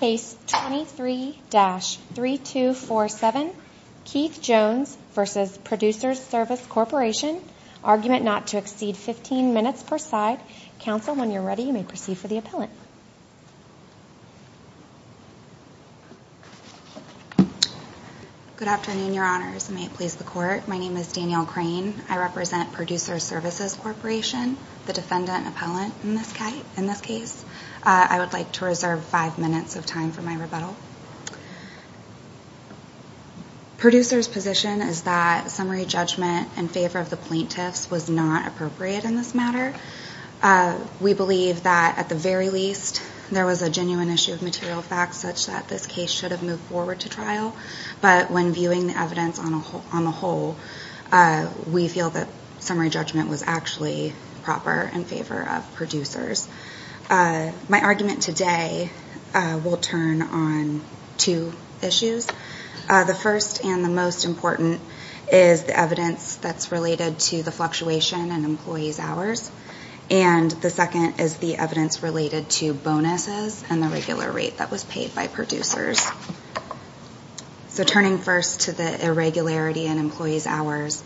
Case 23-3247 Keith Jones v. Producers Service Corporation Argument not to exceed 15 minutes per side. Counsel, when you're ready, you may proceed for the appellant. Good afternoon, Your Honors. May it please the Court. My name is Danielle Crane. I represent Producers Services Corporation, the defendant appellant in this case. I would like to reserve five minutes of time for my rebuttal. Producers' position is that summary judgment in favor of the plaintiffs was not appropriate in this matter. We believe that, at the very least, there was a genuine issue of material facts such that this case should have moved forward to trial. But when viewing the evidence on the whole, we feel that summary judgment was actually proper in favor of producers. My argument today will turn on two issues. The first, and the most important, is the evidence that's related to the fluctuation in employees' hours. And the second is the evidence related to bonuses and the regular rate that was paid by producers. So turning first to the irregularity in employees' hours,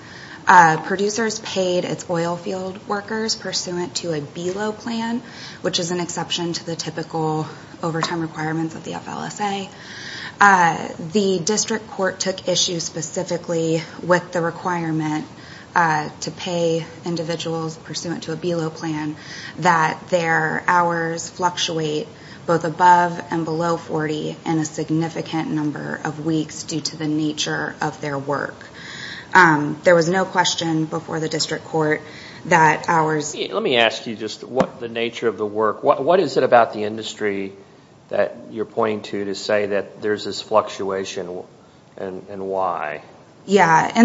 producers paid its oil field workers pursuant to a BELO plan, which is an exception to the typical overtime requirements of the FLSA. The district court took issue specifically with the requirement to pay individuals pursuant to a BELO plan that their hours fluctuate both above and below 40 in a significant number of weeks due to the nature of their work. There was no question before the district court that hours... Let me ask you just what the nature of the work... What is it about the industry that you're pointing to to say that there's this fluctuation, and why? Yeah,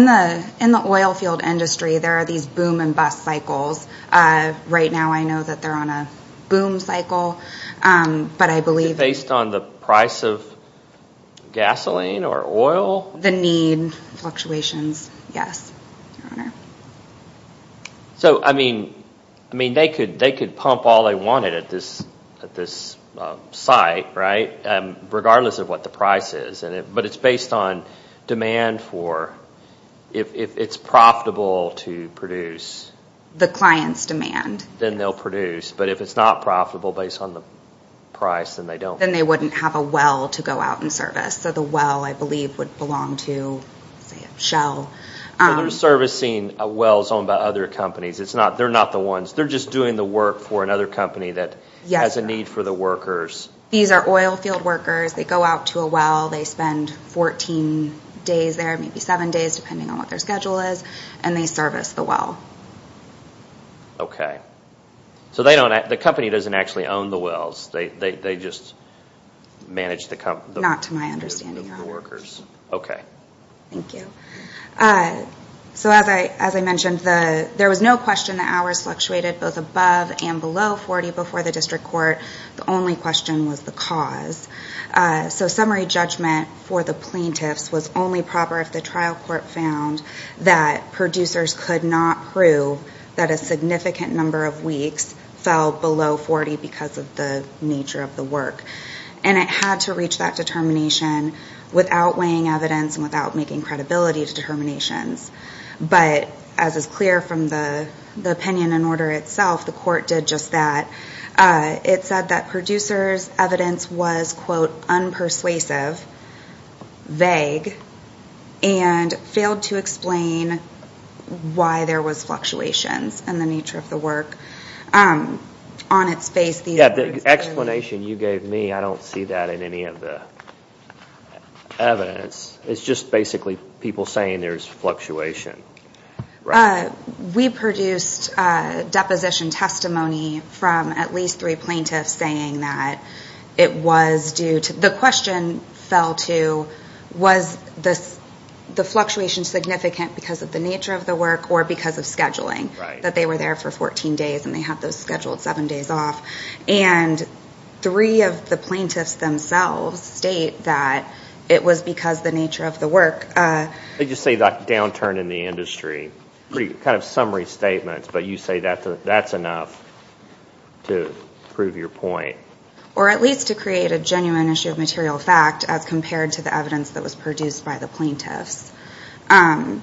in the oil field industry, there are these boom and bust cycles. Right now, I know that they're on a boom cycle, but I believe... Based on the price of gasoline or oil? The need fluctuations, yes, Your Honor. So, I mean, they could pump all they wanted at this site, right, regardless of what the price is, but it's based on demand for... If it's profitable to produce... The client's demand. Then they'll produce, but if it's not profitable based on the price, then they don't... Then they wouldn't have a well to go out and service. So the well, I believe, would belong to, say, a shell. So they're servicing wells owned by other companies. They're not the ones. They're just doing the work for another company that has a need for the workers. These are oil field workers. They go out to a well. They spend 14 days there, maybe seven days, depending on what their schedule is, and they service the well. Okay. So the company doesn't actually own the wells. They just manage the... Not to my understanding, Your Honor. Okay. Thank you. So as I mentioned, there was no question the hours fluctuated both above and below 40 before the district court. The only question was the cause. So summary judgment for the plaintiffs was only proper if the trial court found that producers could not prove that a significant number of weeks fell below 40 because of the nature of the work. And it had to reach that determination without weighing evidence and without making credibility determinations. But as is clear from the opinion in order itself, the court did just that. It said that producers' evidence was, quote, unpersuasive, vague, and failed to explain why there was fluctuations in the nature of the work. On its face, these were... Yeah, the explanation you gave me, I don't see that in any of the evidence. It's just basically people saying there's fluctuation. We produced deposition testimony from at least three plaintiffs saying that it was due to... The question fell to was the fluctuation significant because of the nature of the work or because of scheduling, that they were there for 14 days and they had those scheduled seven days off. And three of the plaintiffs themselves state that it was because the nature of the work. Did you say that downturn in the industry? Kind of summary statements, but you say that's enough to prove your point. Or at least to create a genuine issue of material fact as compared to the evidence that was produced by the plaintiffs. And,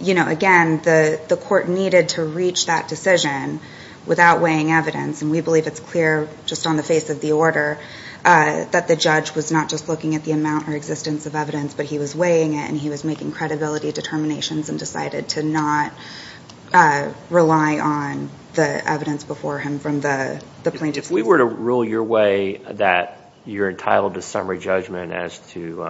you know, again, the court needed to reach that decision without weighing evidence, and we believe it's clear just on the face of the order that the judge was not just looking at the amount or existence of evidence, but he was weighing it and he was making credibility determinations and decided to not rely on the evidence before him from the plaintiffs. If we were to rule your way that you're entitled to summary judgment as to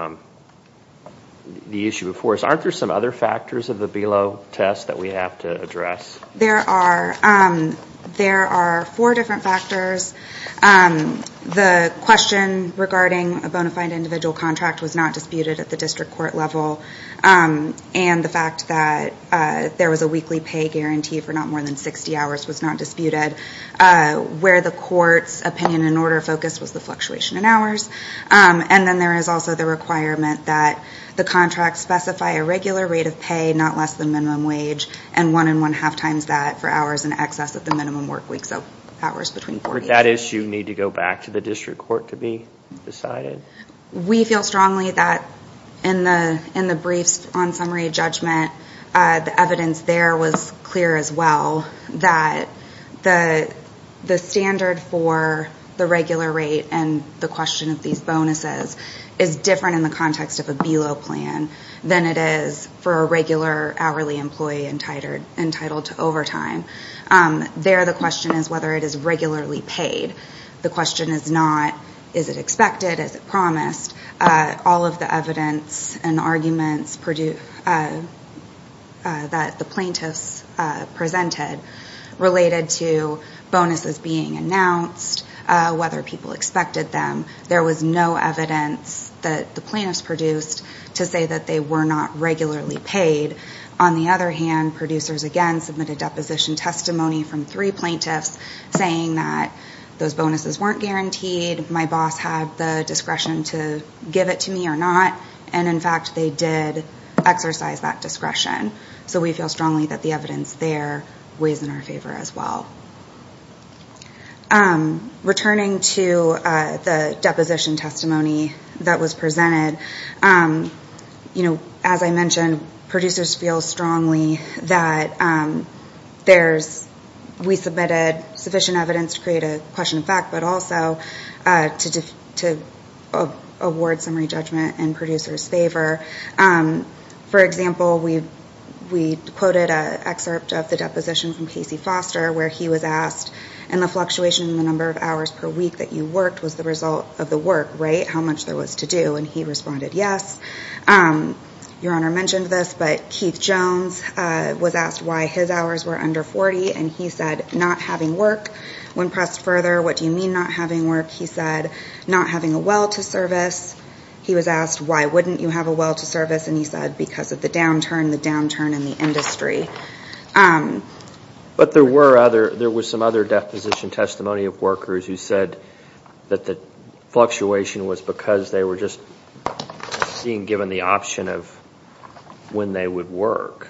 the issue before us, aren't there some other factors of the BELO test that we have to address? There are four different factors. The question regarding a bona fide individual contract was not disputed at the district court level, and the fact that there was a weekly pay guarantee for not more than 60 hours was not disputed. Where the court's opinion and order focus was the fluctuation in hours. And then there is also the requirement that the contract specify a regular rate of pay, not less than minimum wage, and one and one-half times that for hours in excess of the minimum work week, so hours between 40 and 60. Would that issue need to go back to the district court to be decided? We feel strongly that in the briefs on summary judgment, the evidence there was clear as well that the standard for the regular rate and the question of these bonuses is different in the context of a BELO plan than it is for a regular hourly employee entitled to overtime. There the question is whether it is regularly paid. The question is not is it expected, is it promised. All of the evidence and arguments that the plaintiffs presented related to bonuses being announced, whether people expected them. There was no evidence that the plaintiffs produced to say that they were not regularly paid. On the other hand, producers again submitted deposition testimony from three plaintiffs saying that those bonuses weren't guaranteed. My boss had the discretion to give it to me or not, and in fact, they did exercise that discretion. So we feel strongly that the evidence there weighs in our favor as well. Returning to the deposition testimony that was presented, as I mentioned, producers feel strongly that we submitted sufficient evidence to create a question of fact, but also to award summary judgment in producers' favor. For example, we quoted an excerpt of the deposition from Casey Foster where he was asked, and the fluctuation in the number of hours per week that you worked was the result of the work, right, how much there was to do, and he responded yes. Your Honor mentioned this, but Keith Jones was asked why his hours were under 40, and he said not having work. When pressed further, what do you mean not having work? He said not having a well to service. He was asked why wouldn't you have a well to service, and he said because of the downturn, the downturn in the industry. But there was some other deposition testimony of workers who said that the fluctuation was because they were just being given the option of when they would work.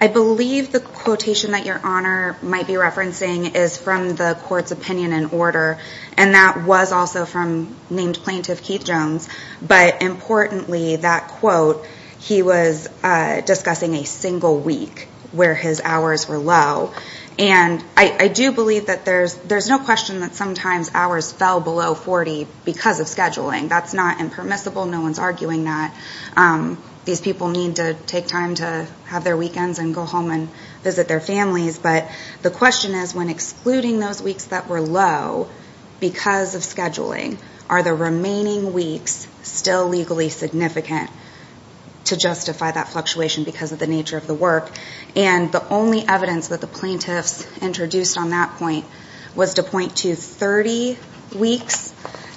I believe the quotation that Your Honor might be referencing is from the court's opinion and order, and that was also from named plaintiff Keith Jones, but importantly, that quote, he was discussing a single week where his hours were low, and I do believe that there's no question that sometimes hours fell below 40 because of scheduling. That's not impermissible. No one's arguing that. These people need to take time to have their weekends and go home and visit their families, but the question is when excluding those weeks that were low because of scheduling, are the remaining weeks still legally significant to justify that fluctuation because of the nature of the work? And the only evidence that the plaintiffs introduced on that point was to point to 30 weeks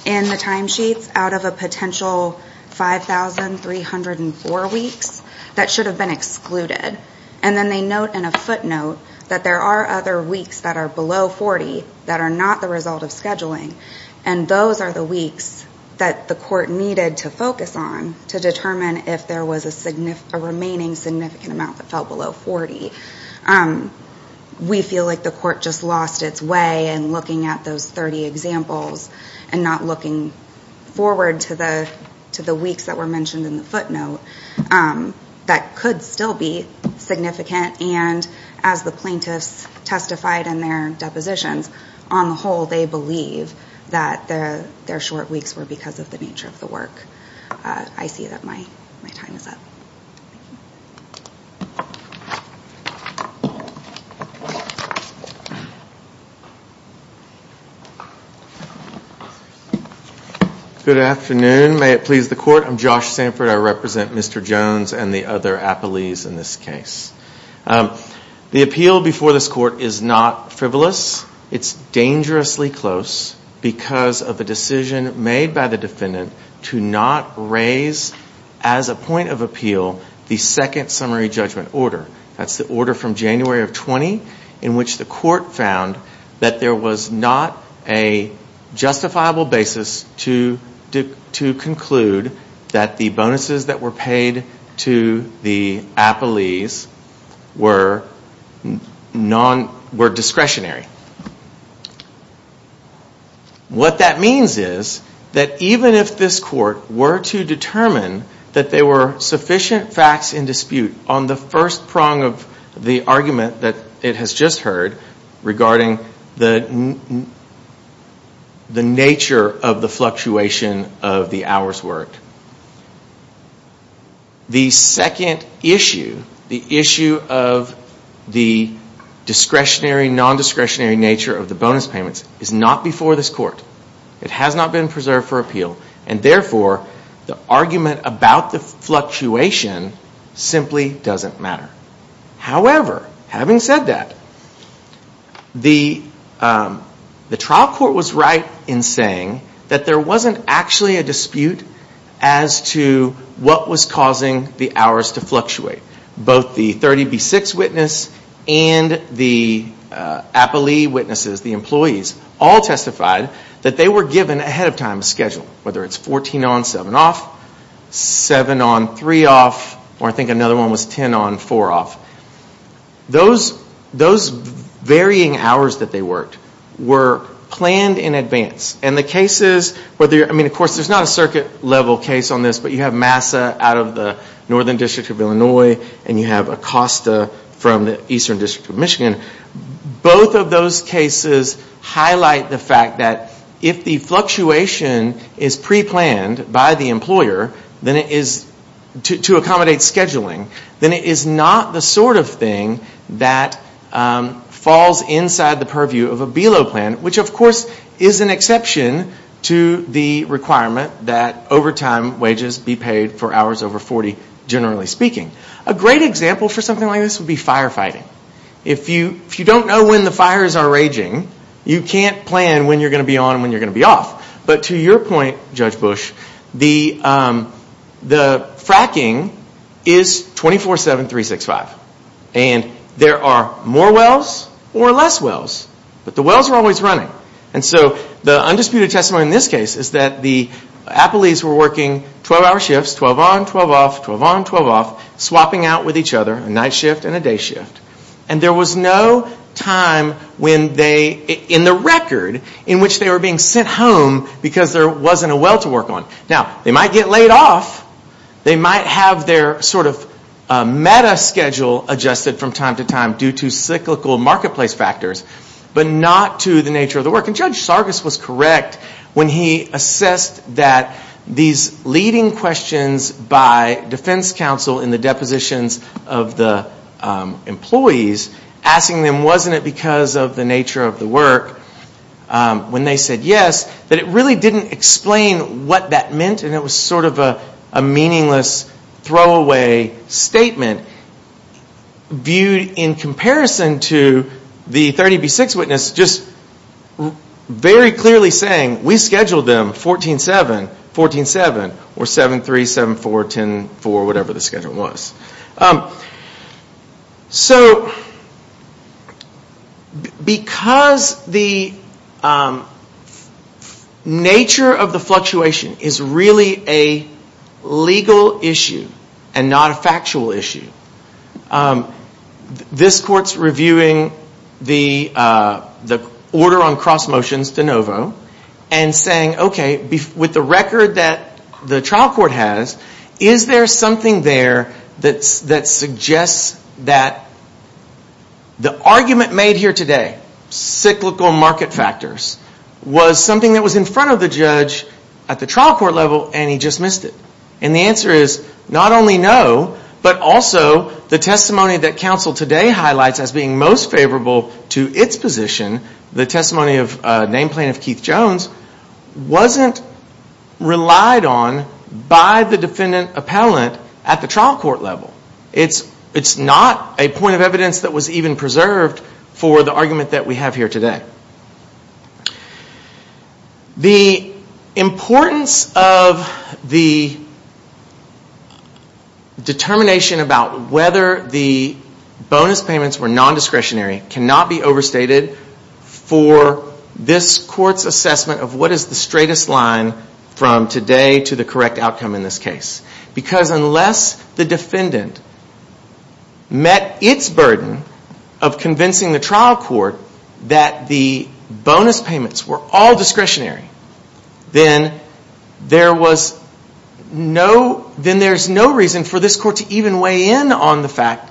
in the timesheets out of a potential 5,304 weeks that should have been excluded, and then they note in a footnote that there are other weeks that are below 40 that are not the result of scheduling, and those are the weeks that the court needed to focus on to determine if there was a remaining significant amount that fell below 40. We feel like the court just lost its way in looking at those 30 examples and not looking forward to the weeks that were mentioned in the footnote that could still be significant, and as the plaintiffs testified in their depositions, on the whole, they believe that their short weeks were because of the nature of the work. I see that my time is up. Good afternoon. May it please the court. I'm Josh Sanford. I represent Mr. Jones and the other appellees in this case. The appeal before this court is not frivolous. It's dangerously close because of the decision made by the defendant to not raise as a point of appeal the second summary judgment order. That's the order from January of 20 in which the court found that there was not a justifiable basis to conclude that the bonuses that were paid to the appellees were discretionary. What that means is that even if this court were to determine that there were sufficient facts in dispute on the first prong of the argument that it has just heard regarding the nature of the fluctuation of the hours worked, the second issue, the issue of the discretionary, non-discretionary nature of the bonus payments is not before this court. It has not been preserved for appeal, and therefore the argument about the fluctuation simply doesn't matter. However, having said that, the trial court was right in saying that there wasn't actually a dispute as to what was causing the hours to fluctuate. Both the 30B6 witness and the appellee witnesses, the employees, all testified that they were given ahead of time a schedule, whether it's 14 on, 7 off, 7 on, 3 off, or I think another one was 10 on, 4 off. Those varying hours that they worked were planned in advance. Of course, there's not a circuit level case on this, but you have Massa out of the Northern District of Illinois, and you have Acosta from the Eastern District of Michigan. Both of those cases highlight the fact that if the fluctuation is pre-planned by the employer to accommodate scheduling, then it is not the sort of thing that falls inside the purview of a BELO plan, which of course is an exception to the requirement that overtime wages be paid for hours over 40, generally speaking. A great example for something like this would be firefighting. If you don't know when the fires are raging, you can't plan when you're going to be on and when you're going to be off. But to your point, Judge Bush, the fracking is 24, 7, 3, 6, 5. And there are more wells or less wells, but the wells are always running. And so the undisputed testimony in this case is that the appellees were working 12-hour shifts, 12 on, 12 off, 12 on, 12 off, swapping out with each other, a night shift and a day shift. And there was no time in the record in which they were being sent home because there wasn't a well to work on. Now, they might get laid off. They might have their sort of meta-schedule adjusted from time to time due to cyclical marketplace factors, but not to the nature of the work. And Judge Sargas was correct when he assessed that these leading questions by defense counsel in the depositions of the employees, asking them, wasn't it because of the nature of the work when they said yes, that it really didn't explain what that meant and it was sort of a meaningless throwaway statement viewed in comparison to the 30B6 witness just very clearly saying, we scheduled them 14-7, 14-7, or 7-3, 7-4, 10-4, whatever the schedule was. So because the nature of the fluctuation is really a legal issue and not a factual issue, this court's reviewing the order on cross motions de novo and saying, okay, with the record that the trial court has, is there something there that suggests that the argument made here today, cyclical market factors, was something that was in front of the judge at the trial court level and he just missed it? And the answer is not only no, but also the testimony that counsel today highlights as being most favorable to its position, the testimony of name plaintiff Keith Jones, wasn't relied on by the defendant appellant at the trial court level. It's not a point of evidence that was even preserved for the argument that we have here today. The importance of the determination about whether the bonus payments were nondiscretionary cannot be overstated for this court's assessment of what is the straightest line from today to the correct outcome in this case. Because unless the defendant met its burden of convincing the trial court that the bonus payments were all discretionary, then there's no reason for this court to even weigh in on the fact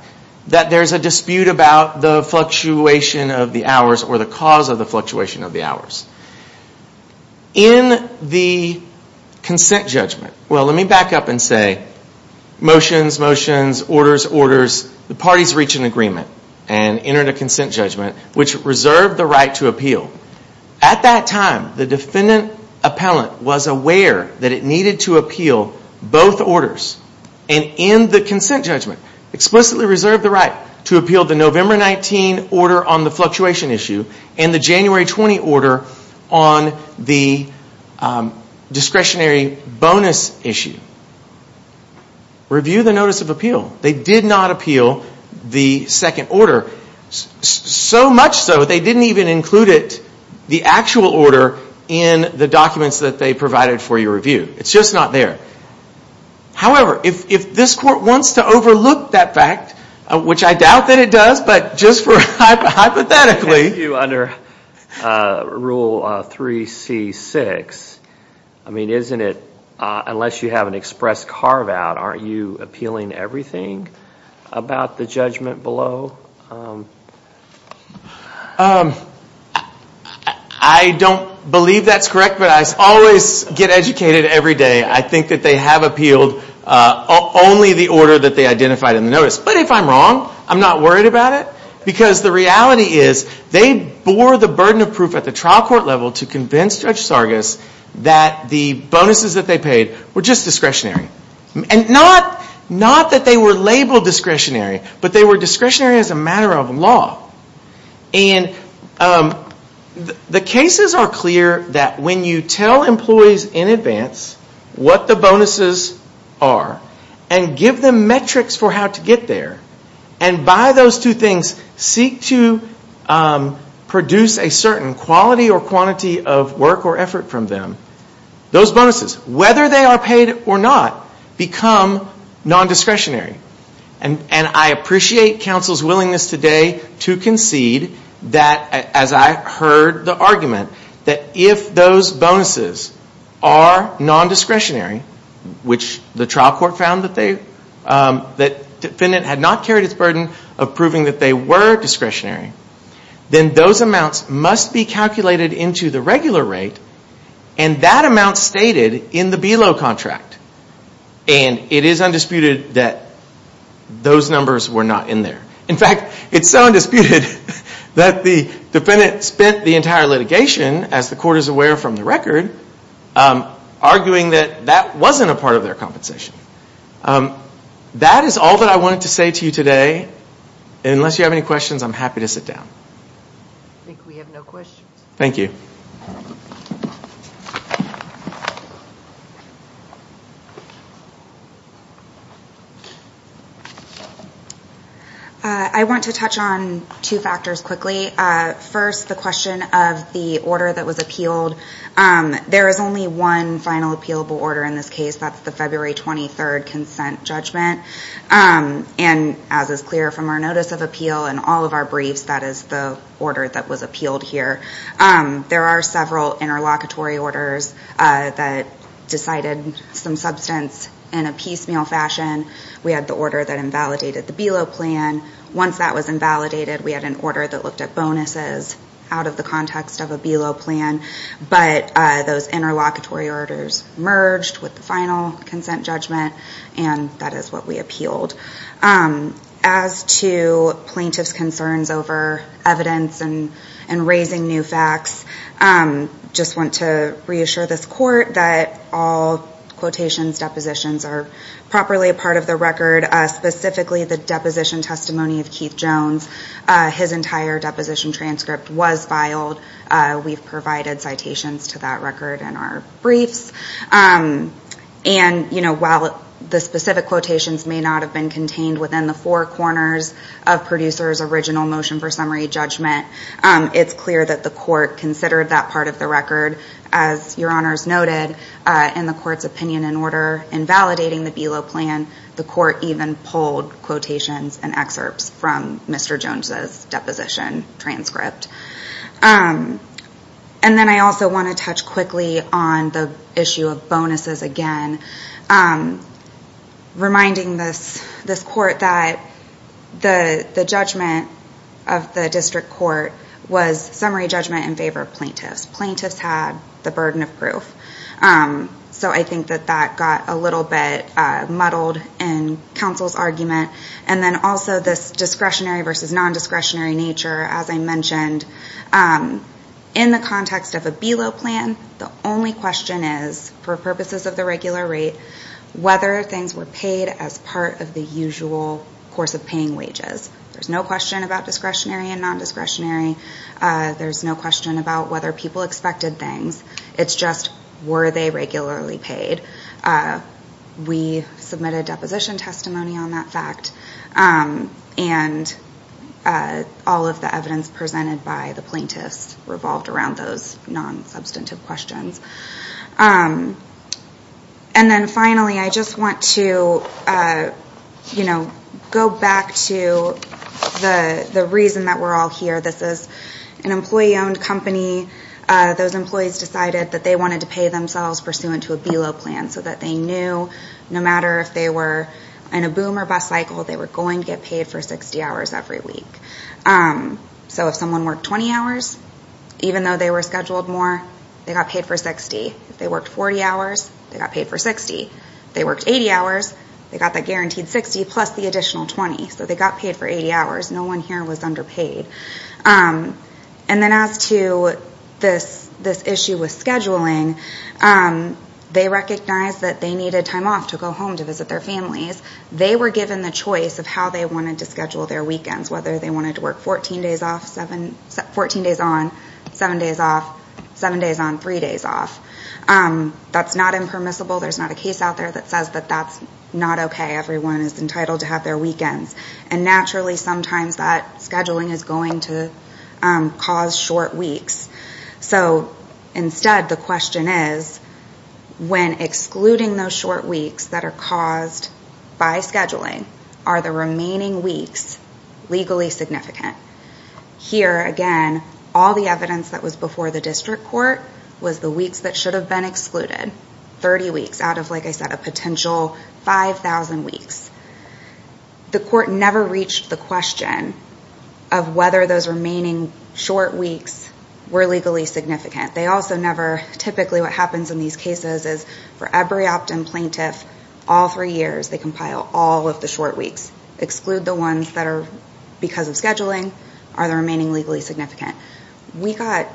that there's a dispute about the fluctuation of the hours or the cause of the fluctuation of the hours. In the consent judgment, well let me back up and say motions, motions, orders, orders, the parties reached an agreement and entered a consent judgment which reserved the right to appeal. At that time, the defendant appellant was aware that it needed to appeal both orders. And in the consent judgment, explicitly reserved the right to appeal the November 19 order on the fluctuation issue and the January 20 order on the discretionary bonus issue. Review the notice of appeal. They did not appeal the second order, so much so they didn't even include it, the actual order, in the documents that they provided for your review. It's just not there. However, if this court wants to overlook that fact, which I doubt that it does, but just hypothetically. Under Rule 3C6, I mean, isn't it, unless you have an express carve-out, aren't you appealing everything about the judgment below? I don't believe that's correct, but I always get educated every day. I think that they have appealed only the order that they identified in the notice. But if I'm wrong, I'm not worried about it. Because the reality is, they bore the burden of proof at the trial court level to convince Judge Sargas that the bonuses that they paid were just discretionary. And not that they were labeled discretionary, but they were discretionary as a matter of law. And the cases are clear that when you tell employees in advance what the bonuses are and give them metrics for how to get there, and by those two things, seek to produce a certain quality or quantity of work or effort from them, those bonuses, whether they are paid or not, become non-discretionary. And I appreciate counsel's willingness today to concede that, as I heard the argument, that if those bonuses are non-discretionary, which the trial court found that the defendant had not carried its burden of proving that they were discretionary, then those amounts must be calculated into the regular rate, and that amount stated in the below contract. And it is undisputed that those numbers were not in there. In fact, it's so undisputed that the defendant spent the entire litigation, as the court is aware from the record, arguing that that wasn't a part of their compensation. That is all that I wanted to say to you today. Unless you have any questions, I'm happy to sit down. I think we have no questions. Thank you. I want to touch on two factors quickly. First, the question of the order that was appealed. There is only one final appealable order in this case. That's the February 23rd consent judgment. And as is clear from our notice of appeal and all of our briefs, that is the order that was appealed here. There are several interlocutory orders that decided some substance in a piecemeal fashion. We had the order that invalidated the below plan. Once that was invalidated, we had an order that looked at bonuses out of the context of a below plan. But those interlocutory orders merged with the final consent judgment, and that is what we appealed. As to plaintiff's concerns over evidence and raising new facts, I just want to reassure this court that all quotations, depositions are properly a part of the record, specifically the deposition testimony of Keith Jones. His entire deposition transcript was filed. We've provided citations to that record in our briefs. And while the specific quotations may not have been contained within the four corners of producer's original motion for summary judgment, it's clear that the court considered that part of the record. As your honors noted, in the court's opinion and order, in validating the below plan, the court even pulled quotations and excerpts from Mr. Jones's deposition transcript. And then I also want to touch quickly on the issue of bonuses again, reminding this court that the judgment of the district court was summary judgment in favor of plaintiffs. Plaintiffs had the burden of proof. So I think that that got a little bit muddled in counsel's argument. And then also this discretionary versus nondiscretionary nature, as I mentioned, in the context of a below plan, the only question is, for purposes of the regular rate, whether things were paid as part of the usual course of paying wages. There's no question about discretionary and nondiscretionary. There's no question about whether people expected things. It's just, were they regularly paid? We submitted deposition testimony on that fact. And all of the evidence presented by the plaintiffs revolved around those non-substantive questions. And then finally, I just want to go back to the reason that we're all here. This is an employee-owned company. Those employees decided that they wanted to pay themselves pursuant to a below plan, so that they knew no matter if they were in a boom or bust cycle, they were going to get paid for 60 hours every week. So if someone worked 20 hours, even though they were scheduled more, they got paid for 60. If they worked 40 hours, they got paid for 60. If they worked 80 hours, they got that guaranteed 60 plus the additional 20. So they got paid for 80 hours. No one here was underpaid. And then as to this issue with scheduling, they recognized that they needed time off to go home to visit their families. They were given the choice of how they wanted to schedule their weekends, whether they wanted to work 14 days on, 7 days off, 7 days on, 3 days off. That's not impermissible. There's not a case out there that says that that's not okay. Everyone is entitled to have their weekends. And naturally, sometimes that scheduling is going to cause short weeks. So instead, the question is, when excluding those short weeks that are caused by scheduling, are the remaining weeks legally significant? Here, again, all the evidence that was before the district court was the weeks that should have been excluded, 30 weeks out of, like I said, a potential 5,000 weeks. The court never reached the question of whether those remaining short weeks were legally significant. They also never, typically what happens in these cases is, for every opt-in plaintiff, all three years, they compile all of the short weeks, exclude the ones that are because of scheduling, are the remaining legally significant. We got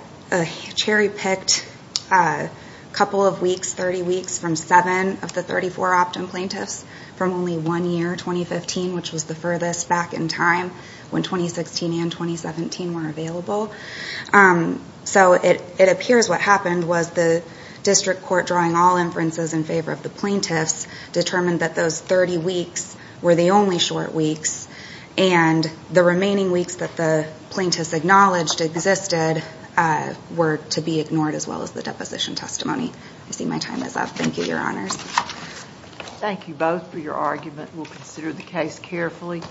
cherry-picked a couple of weeks, 30 weeks, from seven of the 34 opt-in plaintiffs from only one year, 2015, which was the furthest back in time when 2016 and 2017 were available. So it appears what happened was the district court drawing all inferences in favor of the plaintiffs determined that those 30 weeks were the only short weeks, and the remaining weeks that the plaintiffs acknowledged existed were to be ignored as well as the deposition testimony. I see my time is up. Thank you, Your Honors. Thank you both for your argument. We'll consider the case carefully.